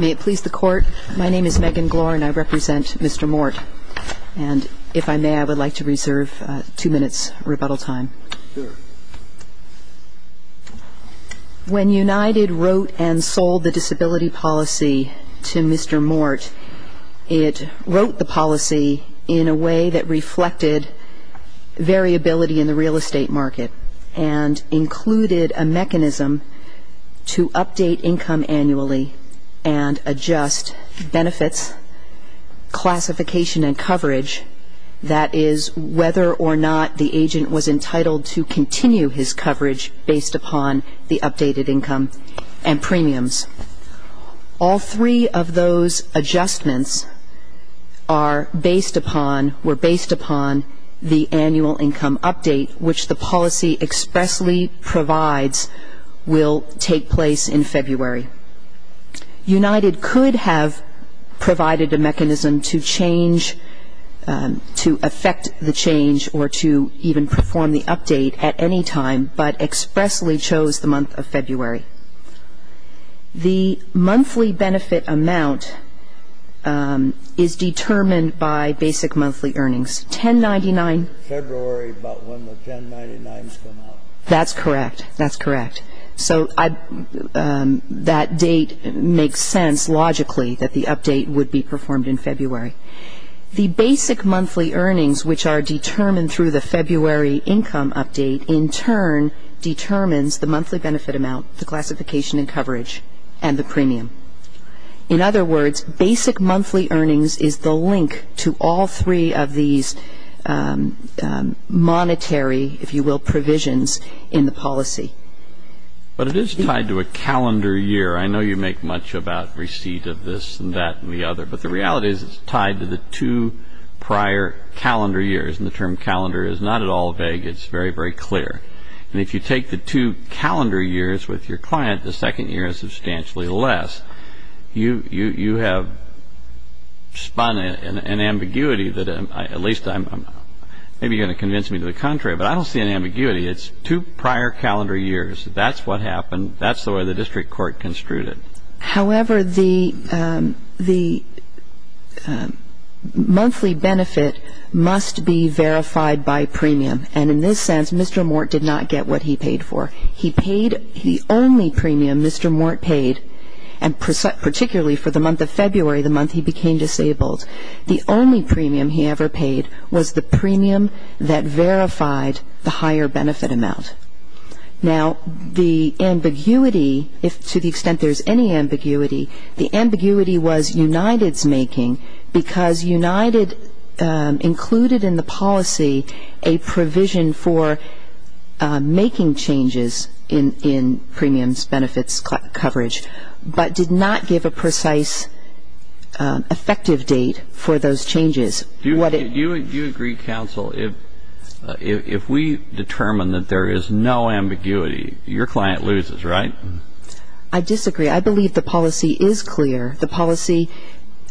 May it please the Court, my name is Megan Glore and I represent Mr. Mort. And if I may, I would like to reserve two minutes rebuttal time. Sure. When United wrote and sold the disability policy to Mr. Mort, it wrote the policy in a way that reflected variability in the real estate market and included a mechanism to update income annually and adjust benefits, classification and coverage. That is, whether or not the agent was entitled to continue his coverage based upon the updated income and premiums. All three of those adjustments were based upon the annual income update, which the policy expressly provides will take place in February. United could have provided a mechanism to change, to affect the change or to even perform the update at any time, but expressly chose the month of February. The monthly benefit amount is determined by basic monthly earnings. 1099? February, about when the 1099s come out. That's correct. That's correct. So that date makes sense, logically, that the update would be performed in February. The basic monthly earnings, which are determined through the February income update, in turn determines the monthly benefit amount, the classification and coverage, and the premium. In other words, basic monthly earnings is the link to all three of these monetary, if you will, provisions in the policy. But it is tied to a calendar year. I know you make much about receipt of this and that and the other, but the reality is it's tied to the two prior calendar years. And the term calendar is not at all vague. It's very, very clear. And if you take the two calendar years with your client, the second year is substantially less. You have spun an ambiguity that at least I'm going to convince me to the contrary, but I don't see an ambiguity. It's two prior calendar years. That's what happened. That's the way the district court construed it. However, the monthly benefit must be verified by premium. And in this sense, Mr. Mort did not get what he paid for. He paid the only premium Mr. Mort paid, and particularly for the month of February, the month he became disabled. The only premium he ever paid was the premium that verified the higher benefit amount. Now, the ambiguity, if to the extent there's any ambiguity, the ambiguity was United's making, because United included in the policy a provision for making changes in premiums, benefits, coverage, but did not give a precise effective date for those changes. Do you agree, counsel, if we determine that there is no ambiguity, your client loses, right? I disagree. I believe the policy is clear. The policy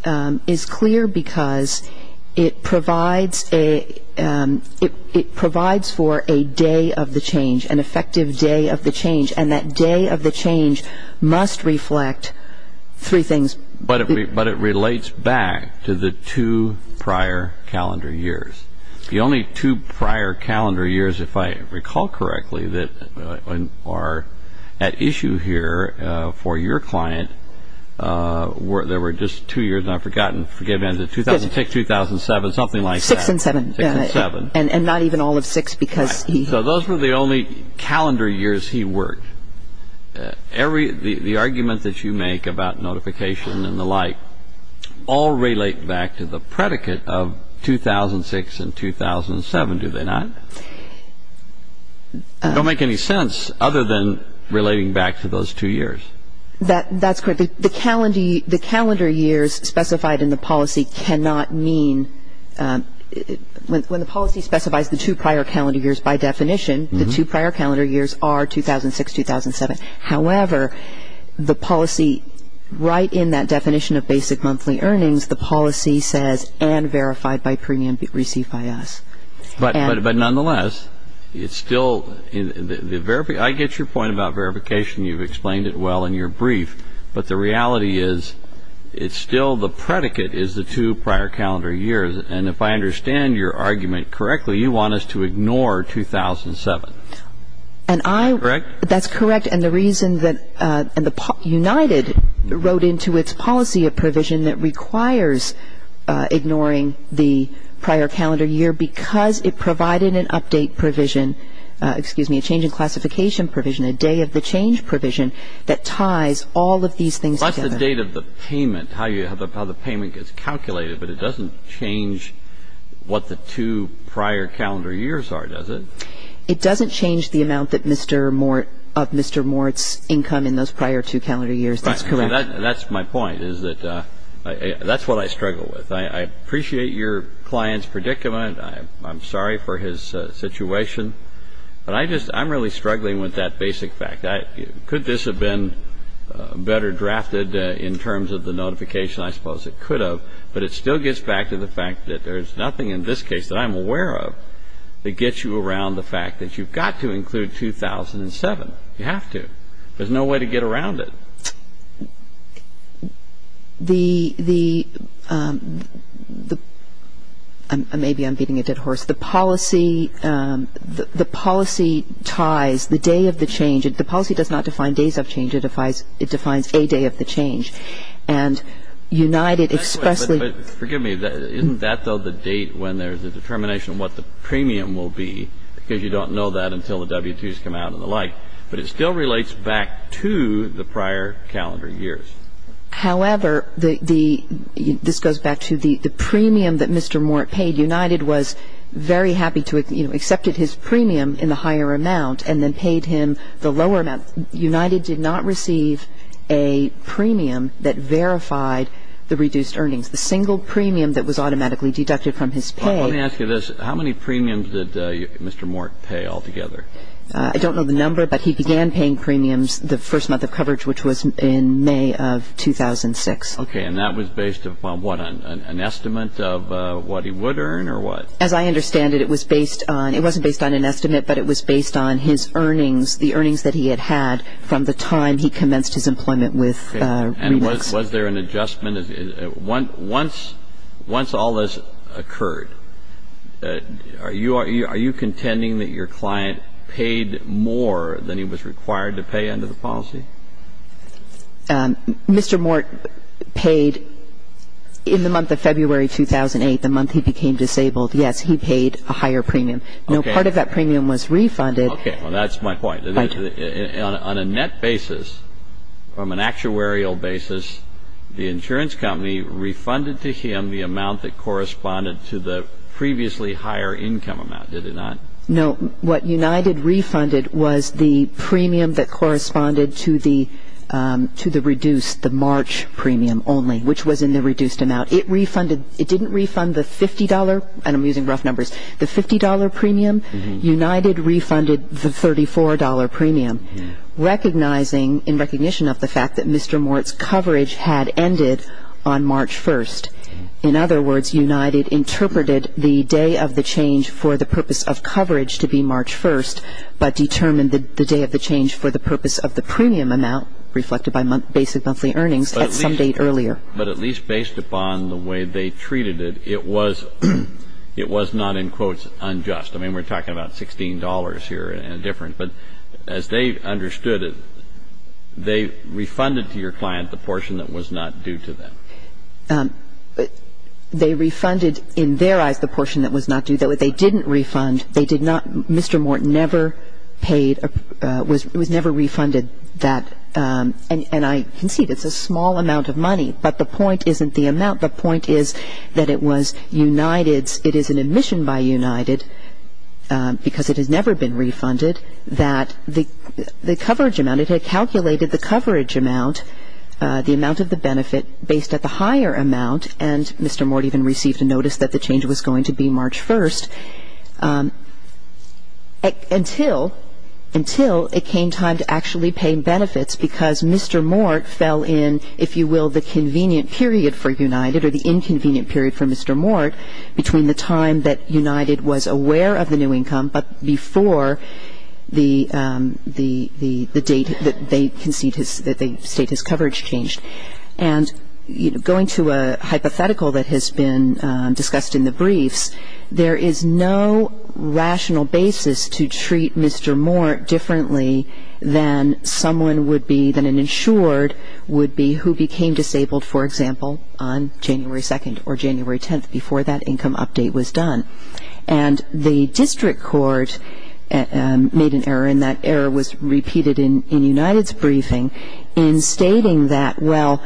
is clear because it provides for a day of the change, an effective day of the change, and that day of the change must reflect three things. But it relates back to the two prior calendar years. The only two prior calendar years, if I recall correctly, that are at issue here for your client, there were just two years, and I've forgotten, forgive me, 2006, 2007, something like that. Six and seven. Six and seven. And not even all of six because he --. So those were the only calendar years he worked. The argument that you make about notification and the like all relate back to the predicate of 2006 and 2007, do they not? They don't make any sense other than relating back to those two years. That's correct. The calendar years specified in the policy cannot mean ñ when the policy specifies the two prior calendar years by definition, the two prior calendar years are 2006, 2007. However, the policy right in that definition of basic monthly earnings, the policy says and verified by premium received by us. But nonetheless, it's still ñ I get your point about verification. You've explained it well in your brief. But the reality is it's still the predicate is the two prior calendar years. And if I understand your argument correctly, you want us to ignore 2007. And I ñ Correct? That's correct. And the reason that ñ and United wrote into its policy a provision that requires ignoring the prior calendar year because it provided an update provision, excuse me, a change in classification provision, a day of the change provision that ties all of these things together. The update of the payment, how the payment gets calculated, but it doesn't change what the two prior calendar years are, does it? It doesn't change the amount that Mr. Mort ñ of Mr. Mort's income in those prior two calendar years. That's correct. That's my point is that that's what I struggle with. I appreciate your client's predicament. I'm sorry for his situation. But I just ñ I'm really struggling with that basic fact. Could this have been better drafted in terms of the notification? I suppose it could have. But it still gets back to the fact that there's nothing in this case that I'm aware of that gets you around the fact that you've got to include 2007. You have to. There's no way to get around it. The ñ maybe I'm beating a dead horse. The policy ties the day of the change. The policy does not define days of change. It defines a day of the change. And United expressly ñ But forgive me. Isn't that, though, the date when there's a determination of what the premium will be? Because you don't know that until the W-2s come out and the like. But it still relates back to the prior calendar years. However, the ñ this goes back to the premium that Mr. Mort paid. United was very happy to ñ you know, accepted his premium in the higher amount and then paid him the lower amount. United did not receive a premium that verified the reduced earnings. The single premium that was automatically deducted from his pay ñ Let me ask you this. How many premiums did Mr. Mort pay altogether? I don't know the number, but he began paying premiums the first month of coverage, which was in May of 2006. Okay. And that was based upon what, an estimate of what he would earn or what? As I understand it, it was based on ñ it wasn't based on an estimate, but it was based on his earnings, the earnings that he had had from the time he commenced his employment with Redox. Okay. And was there an adjustment? Once all this occurred, are you contending that your client paid more than he was required to pay under the policy? Mr. Mort paid ñ in the month of February 2008, the month he became disabled, yes, he paid a higher premium. Okay. No, part of that premium was refunded. Okay. Well, that's my point. Thank you. On a net basis, from an actuarial basis, the insurance company refunded to him the amount that corresponded to the previously higher income amount, did it not? No. What United refunded was the premium that corresponded to the reduced, the March premium only, which was in the reduced amount. It refunded ñ it didn't refund the $50 ñ and I'm using rough numbers ñ the $50 premium. United refunded the $34 premium, recognizing ñ that the coverage had ended on March 1st. In other words, United interpreted the day of the change for the purpose of coverage to be March 1st, but determined the day of the change for the purpose of the premium amount, reflected by basic monthly earnings, at some date earlier. But at least based upon the way they treated it, it was not, in quotes, unjust. I mean, we're talking about $16 here and different. But as they understood it, they refunded to your client the portion that was not due to them. They refunded, in their eyes, the portion that was not due. They didn't refund. They did not ñ Mr. Morton never paid ñ was ñ was never refunded that ñ and I concede it's a small amount of money, but the point isn't the amount. The point is that it was United's ñ it is an admission by United, because it has never been refunded, that the coverage amount ñ it had calculated the coverage amount, the amount of the benefit, based at the higher amount, and Mr. Morton even received a notice that the change was going to be March 1st, until ñ until it came time to actually pay benefits, because Mr. Morton fell in, if you will, the convenient period for United, or the inconvenient period for Mr. Morton, between the time that United was aware of the new income, but before the date that they concede his ñ that they state his coverage changed. And, you know, going to a hypothetical that has been discussed in the briefs, there is no rational basis to treat Mr. Morton differently than someone would be ñ January 2nd or January 10th, before that income update was done. And the district court made an error, and that error was repeated in United's briefing, in stating that, well,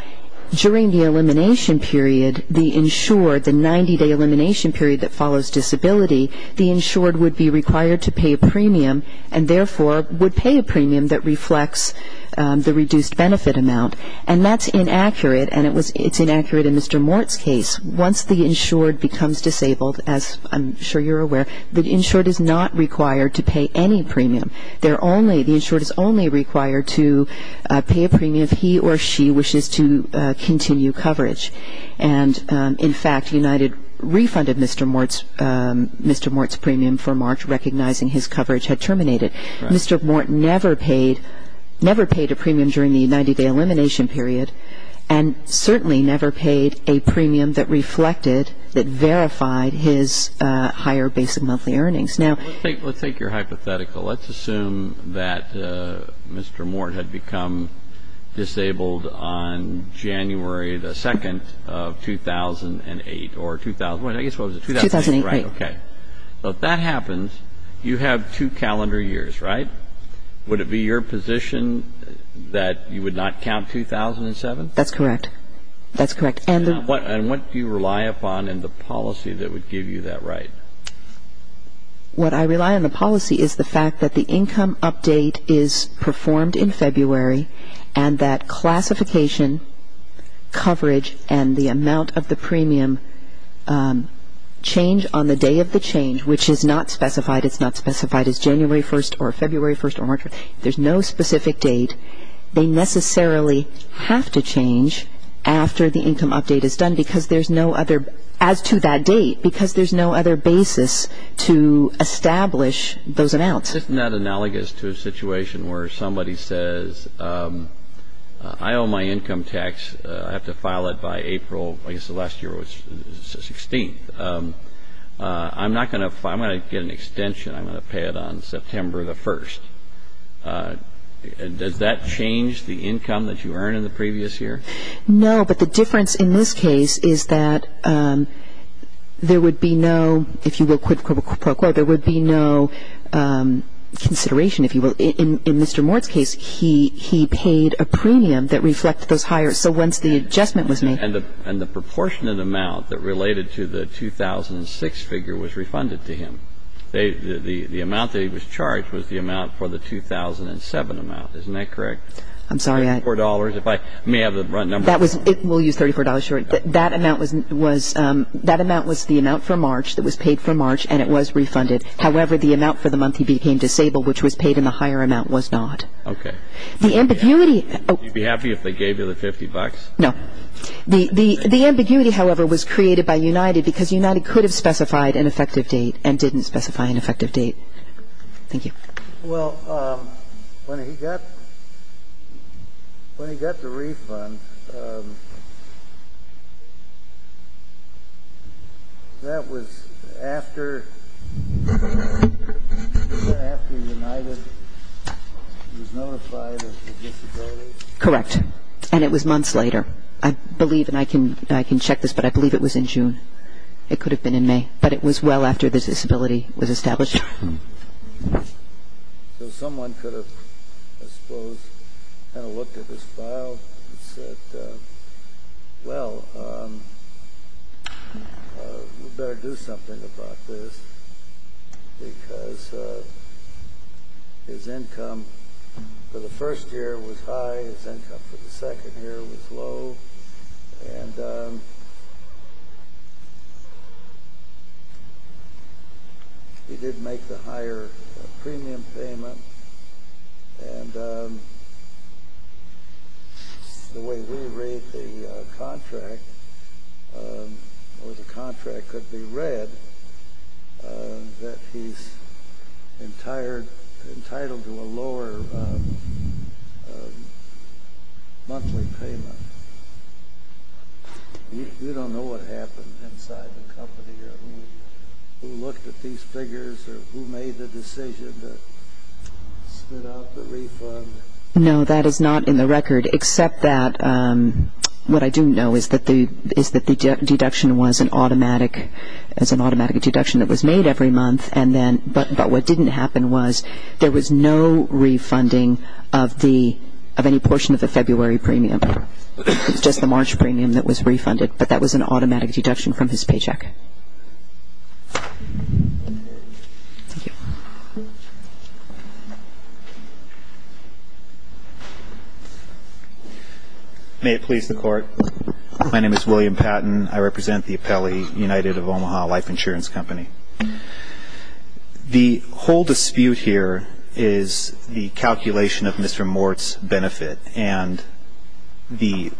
during the elimination period, the insured, the 90-day elimination period that follows disability, the insured would be required to pay a premium, and therefore would pay a premium that reflects the reduced benefit amount. And that's inaccurate, and it was ñ it's inaccurate in Mr. Morton's case. Once the insured becomes disabled, as I'm sure you're aware, the insured is not required to pay any premium. They're only ñ the insured is only required to pay a premium if he or she wishes to continue coverage. And, in fact, United refunded Mr. Morton ñ Mr. Morton's premium for March, recognizing his coverage had terminated. Right. Mr. Morton never paid ñ never paid a premium during the 90-day elimination period and certainly never paid a premium that reflected, that verified his higher basic monthly earnings. Now ñ Let's take ñ let's take your hypothetical. Let's assume that Mr. Morton had become disabled on January 2nd of 2008 or ñ I guess what was it ñ 2008. 2008. Right. Okay. Now, if that happens, you have two calendar years, right? Would it be your position that you would not count 2007? That's correct. That's correct. And the ñ And what do you rely upon in the policy that would give you that right? What I rely on in the policy is the fact that the income update is performed in February and that classification, coverage, and the amount of the premium change on the day of the change, which is not specified ñ it's not specified as January 1st or February 1st or March 1st. There's no specific date. They necessarily have to change after the income update is done because there's no other ñ as to that date, because there's no other basis to establish those amounts. Isn't that analogous to a situation where somebody says, I owe my income tax. I have to file it by April ñ I guess the last year was 16th. I'm not going to ñ I'm going to get an extension. I'm going to pay it on September the 1st. Does that change the income that you earned in the previous year? No, but the difference in this case is that there would be no ñ if you will, there would be no consideration, if you will. In Mr. Mort's case, he paid a premium that reflected those hires. So once the adjustment was made ñ And the proportionate amount that related to the 2006 figure was refunded to him. The amount that he was charged was the amount for the 2007 amount. Isn't that correct? I'm sorry, I ñ $34. If I may have the number ñ That was ñ we'll use $34. That amount was the amount for March that was paid for March, and it was refunded. However, the amount for the month he became disabled, which was paid in the higher amount, was not. Okay. The ambiguity ñ Would you be happy if they gave you the 50 bucks? No. The ambiguity, however, was created by United because United could have specified an effective date and didn't specify an effective date. Thank you. Well, when he got the refund, that was after United was notified of the disability? Correct. And it was months later. I believe, and I can check this, but I believe it was in June. It could have been in May, but it was well after the disability was established. So someone could have, I suppose, kind of looked at this file and said, well, we'd better do something about this because his income for the first year was high, his income for the second year was low, and he did make the higher premium payment. And the way we read the contract, or the contract could be read, that he's entitled to a lower monthly payment. We don't know what happened inside the company or who looked at these figures or who made the decision to spit out the refund. No, that is not in the record, except that what I do know is that the deduction was an automatic ñ it was an automatic deduction that was made every month, but what didn't happen was there was no refunding of any portion of the February premium. It was just the March premium that was refunded, but that was an automatic deduction from his paycheck. May it please the Court, my name is William Patton. I represent the Appellee United of Omaha Life Insurance Company. The whole dispute here is the calculation of Mr. Mort's benefit, and the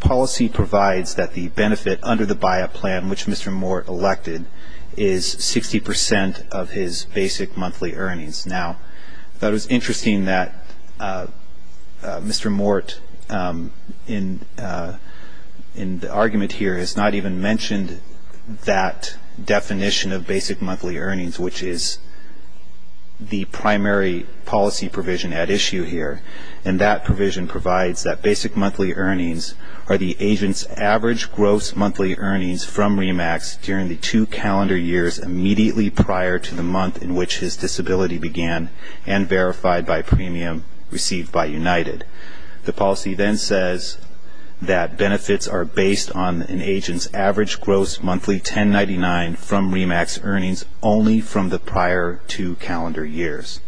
policy provides that the benefit under the buyout plan, which Mr. Mort elected, is 60 percent of his basic monthly earnings. Now, I thought it was interesting that Mr. Mort, in the argument here, has not even mentioned that definition of basic monthly earnings, which is the primary policy provision at issue here, and that provision provides that basic monthly earnings are the agent's average gross monthly earnings from RE-MAX during the two calendar years immediately prior to the month in which his disability began and verified by premium received by United. The policy then says that benefits are based on an agent's average gross monthly 1099 from RE-MAX earnings only from the prior two calendar years.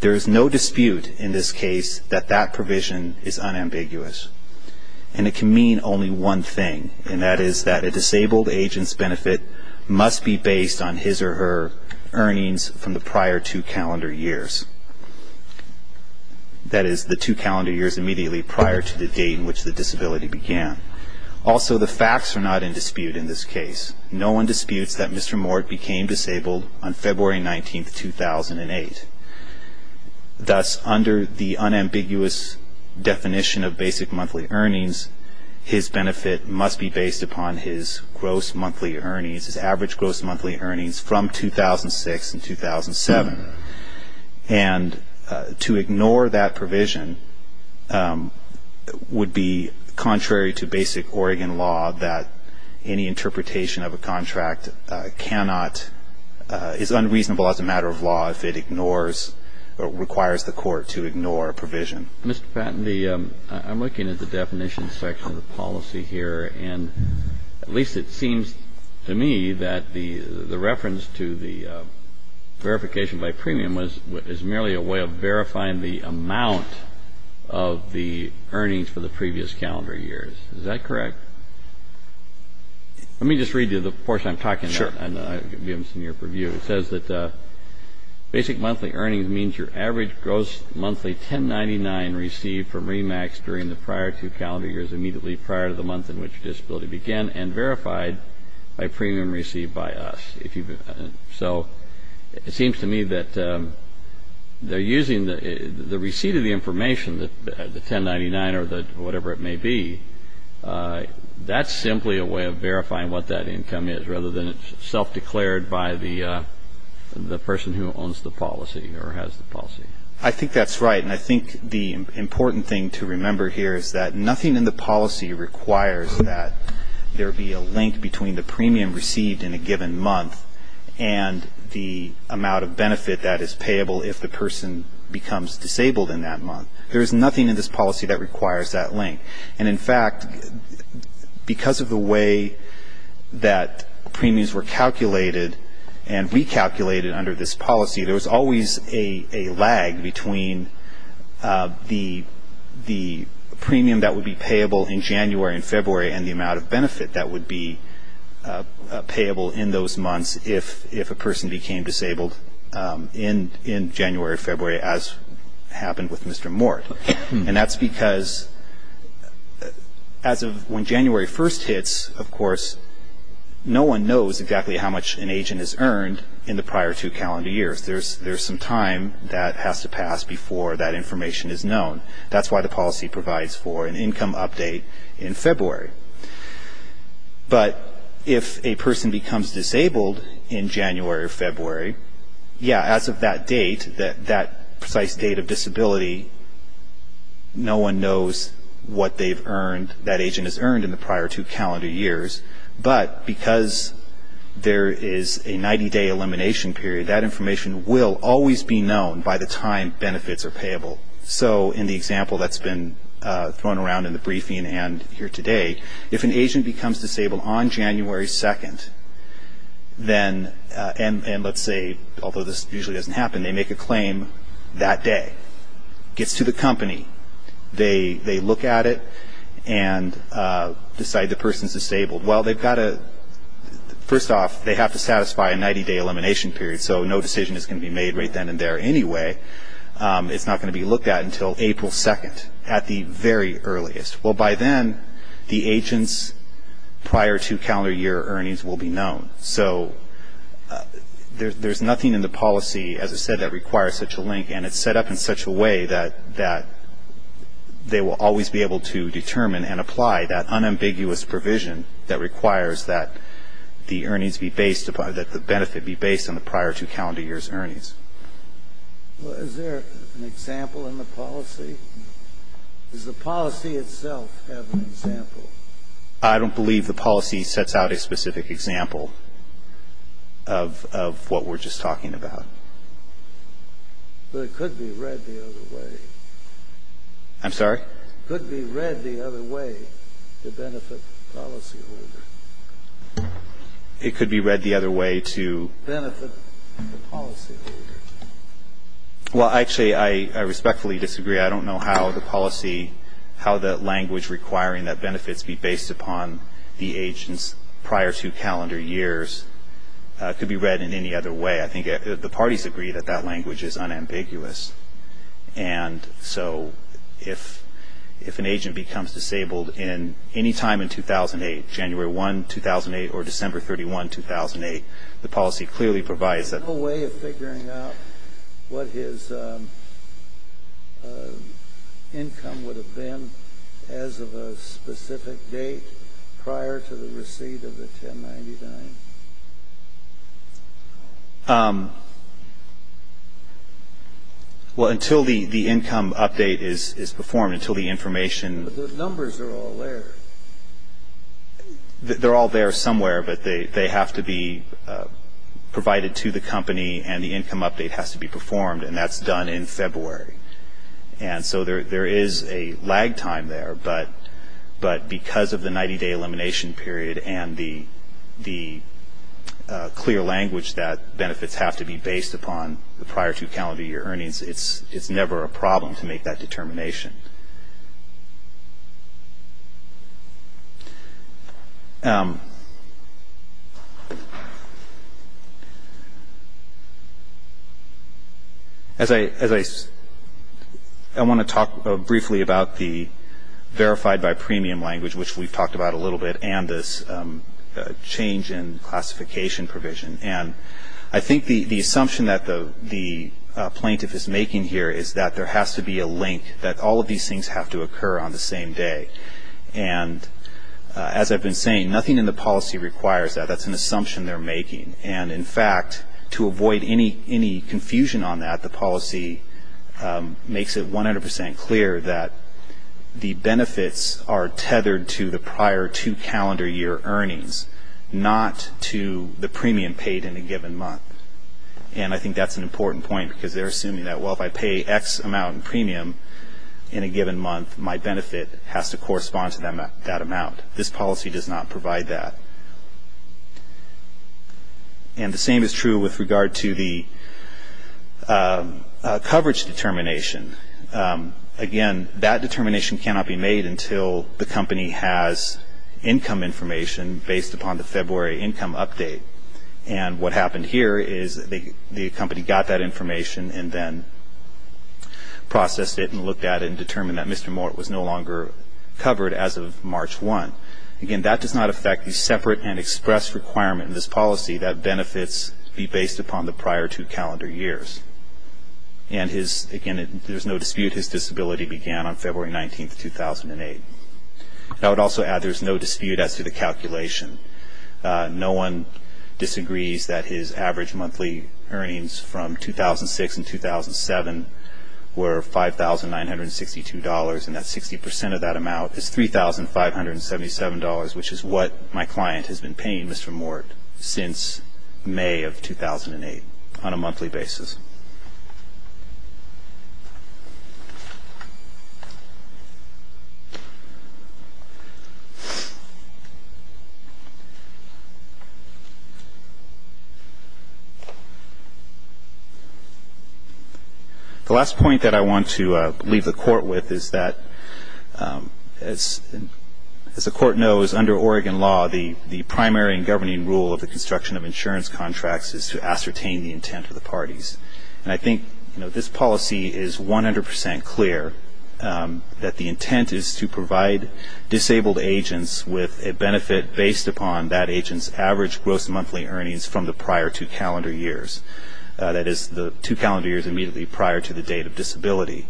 There is no dispute in this case that that provision is unambiguous, and it can mean only one thing, and that is that a disabled agent's benefit must be based on his or her earnings from the prior two calendar years, that is, the two calendar years immediately prior to the date in which the disability began. Also, the facts are not in dispute in this case. No one disputes that Mr. Mort became disabled on February 19, 2008. Thus, under the unambiguous definition of basic monthly earnings, his benefit must be based upon his gross monthly earnings, his average gross monthly earnings from 2006 and 2007. And to ignore that provision would be contrary to basic Oregon law that any interpretation of a contract is unreasonable as a matter of law if it ignores or requires the court to ignore a provision. Mr. Patton, I'm looking at the definition section of the policy here, and at least it seems to me that the reference to the verification by premium is merely a way of verifying the amount of the earnings for the previous calendar years. Is that correct? Let me just read you the portion I'm talking about. Sure. And I'll give you some year preview. It says that basic monthly earnings means your average gross monthly 1099 received from REMAX during the prior two calendar years immediately prior to the month in which disability began and verified by premium received by us. So it seems to me that they're using the receipt of the information, the 1099 or whatever it may be. That's simply a way of verifying what that income is rather than it's self-declared by the person who owns the policy or has the policy. I think that's right. And I think the important thing to remember here is that nothing in the policy requires that there be a link between the premium received in a given month and the amount of benefit that is payable if the person becomes disabled in that month. There is nothing in this policy that requires that link. And, in fact, because of the way that premiums were calculated and recalculated under this policy, there was always a lag between the premium that would be payable in January and February and the amount of benefit that would be payable in those months if a person became disabled in January, February as happened with Mr. Mort. And that's because as of when January 1st hits, of course, no one knows exactly how much an agent has earned in the prior two calendar years. There's some time that has to pass before that information is known. That's why the policy provides for an income update in February. But if a person becomes disabled in January or February, yeah, as of that date, that precise date of disability, no one knows what they've earned, that agent has earned in the prior two calendar years. But because there is a 90-day elimination period, that information will always be known by the time benefits are payable. So in the example that's been thrown around in the briefing and here today, if an agent becomes disabled on January 2nd, then, and let's say, although this usually doesn't happen, they make a claim that day, gets to the company. They look at it and decide the person's disabled. Well, they've got to, first off, they have to satisfy a 90-day elimination period, so no decision is going to be made right then and there anyway. It's not going to be looked at until April 2nd at the very earliest. Well, by then, the agent's prior two calendar year earnings will be known. So there's nothing in the policy, as I said, that requires such a link, and it's set up in such a way that they will always be able to determine and apply that unambiguous provision that requires that the earnings be based upon, that the benefit be based on the prior two calendar year's earnings. Well, is there an example in the policy? Does the policy itself have an example? I don't believe the policy sets out a specific example of what we're just talking about. But it could be read the other way. I'm sorry? It could be read the other way to benefit the policyholder. It could be read the other way to? Benefit the policyholder. Well, actually, I respectfully disagree. I don't know how the policy, how the language requiring that benefits be based upon the agent's prior two calendar years could be read in any other way. I think the parties agree that that language is unambiguous. And so if an agent becomes disabled in any time in 2008, January 1, 2008, or December 31, 2008, the policy clearly provides that. Is there no way of figuring out what his income would have been as of a specific date prior to the receipt of the 1099? Well, until the income update is performed, until the information. But the numbers are all there. They're all there somewhere, but they have to be provided to the company, and the income update has to be performed, and that's done in February. And so there is a lag time there, but because of the 90-day elimination period and the clear language that benefits have to be based upon, the prior two calendar year earnings, it's never a problem to make that determination. As I want to talk briefly about the verified by premium language, which we've talked about a little bit, and this change in classification provision. And I think the assumption that the plaintiff is making here is that there has to be a link, that all of these things have to occur on the same day. And as I've been saying, nothing in the policy requires that. That's an assumption they're making. And, in fact, to avoid any confusion on that, the policy makes it 100 percent clear that the benefits are tethered to the prior two calendar year earnings, not to the premium paid in a given month. And I think that's an important point, because they're assuming that, well, if I pay X amount in premium in a given month, my benefit has to correspond to that amount. This policy does not provide that. And the same is true with regard to the coverage determination. Again, that determination cannot be made until the company has income information based upon the February income update. And what happened here is the company got that information and then processed it and looked at it and determined that Mr. Mort was no longer covered as of March 1. Again, that does not affect the separate and express requirement in this policy that benefits be based upon the prior two calendar years. And, again, there's no dispute his disability began on February 19, 2008. I would also add there's no dispute as to the calculation. No one disagrees that his average monthly earnings from 2006 and 2007 were $5,962, and that 60 percent of that amount is $3,577, which is what my client has been paying Mr. Mort since May of 2008 on a monthly basis. Thank you. The last point that I want to leave the Court with is that, as the Court knows, under Oregon law the primary and governing rule of the construction of insurance contracts is to ascertain the intent of the parties. And I think this policy is 100 percent clear that the intent is to provide disabled agents with a benefit based upon that agent's average gross monthly earnings from the prior two calendar years, that is the two calendar years immediately prior to the date of disability.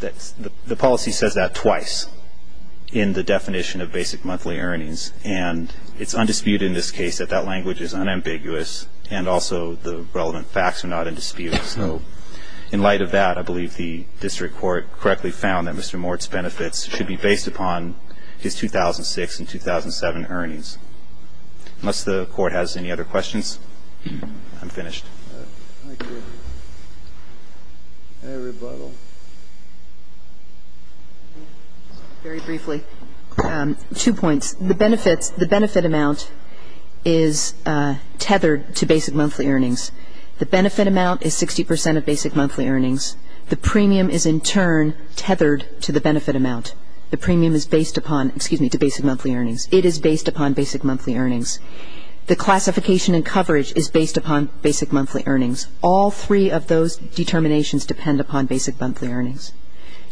The policy says that twice in the definition of basic monthly earnings, and it's undisputed in this case that that language is unambiguous, and also the relevant facts are not in dispute. So in light of that, I believe the district court correctly found that Mr. Mort's benefits should be based upon his 2006 and 2007 earnings. Unless the Court has any other questions, I'm finished. Thank you. Any rebuttal? Very briefly. Two points. The benefits, the benefit amount is tethered to basic monthly earnings. The benefit amount is 60 percent of basic monthly earnings. The premium is in turn tethered to the benefit amount. The premium is based upon, excuse me, to basic monthly earnings. It is based upon basic monthly earnings. The classification and coverage is based upon basic monthly earnings. All three of those determinations depend upon basic monthly earnings.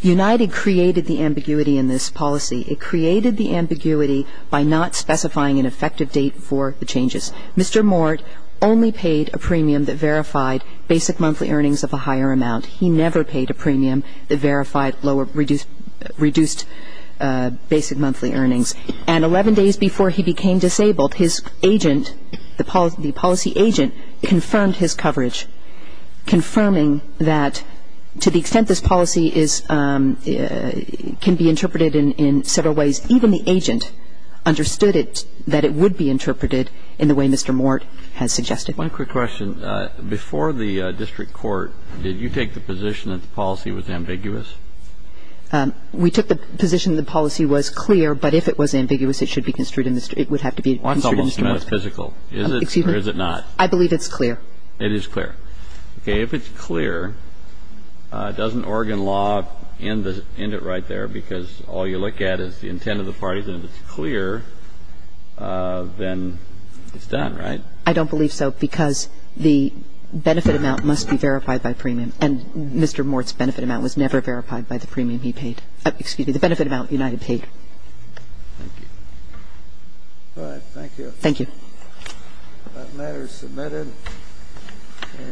United created the ambiguity in this policy. It created the ambiguity by not specifying an effective date for the changes. Mr. Mort only paid a premium that verified basic monthly earnings of a higher amount. He never paid a premium that verified reduced basic monthly earnings. And 11 days before he became disabled, his agent, the policy agent, confirmed his coverage, confirming that to the extent this policy can be interpreted in several ways, even the agent understood that it would be interpreted in the way Mr. Mort has suggested. One quick question. Before the district court, did you take the position that the policy was ambiguous? We took the position the policy was clear, but if it was ambiguous, it should be construed in the district. It would have to be construed in Mr. Mort. That's almost metaphysical. Is it or is it not? I believe it's clear. It is clear. Okay. If it's clear, doesn't Oregon law end it right there because all you look at is the intent of the parties? And if it's clear, then it's done, right? I don't believe so because the benefit amount must be verified by premium. And Mr. Mort's benefit amount was never verified by the premium he paid. Excuse me, the benefit amount United paid. Thank you. All right. Thank you. Thank you. That matter is submitted.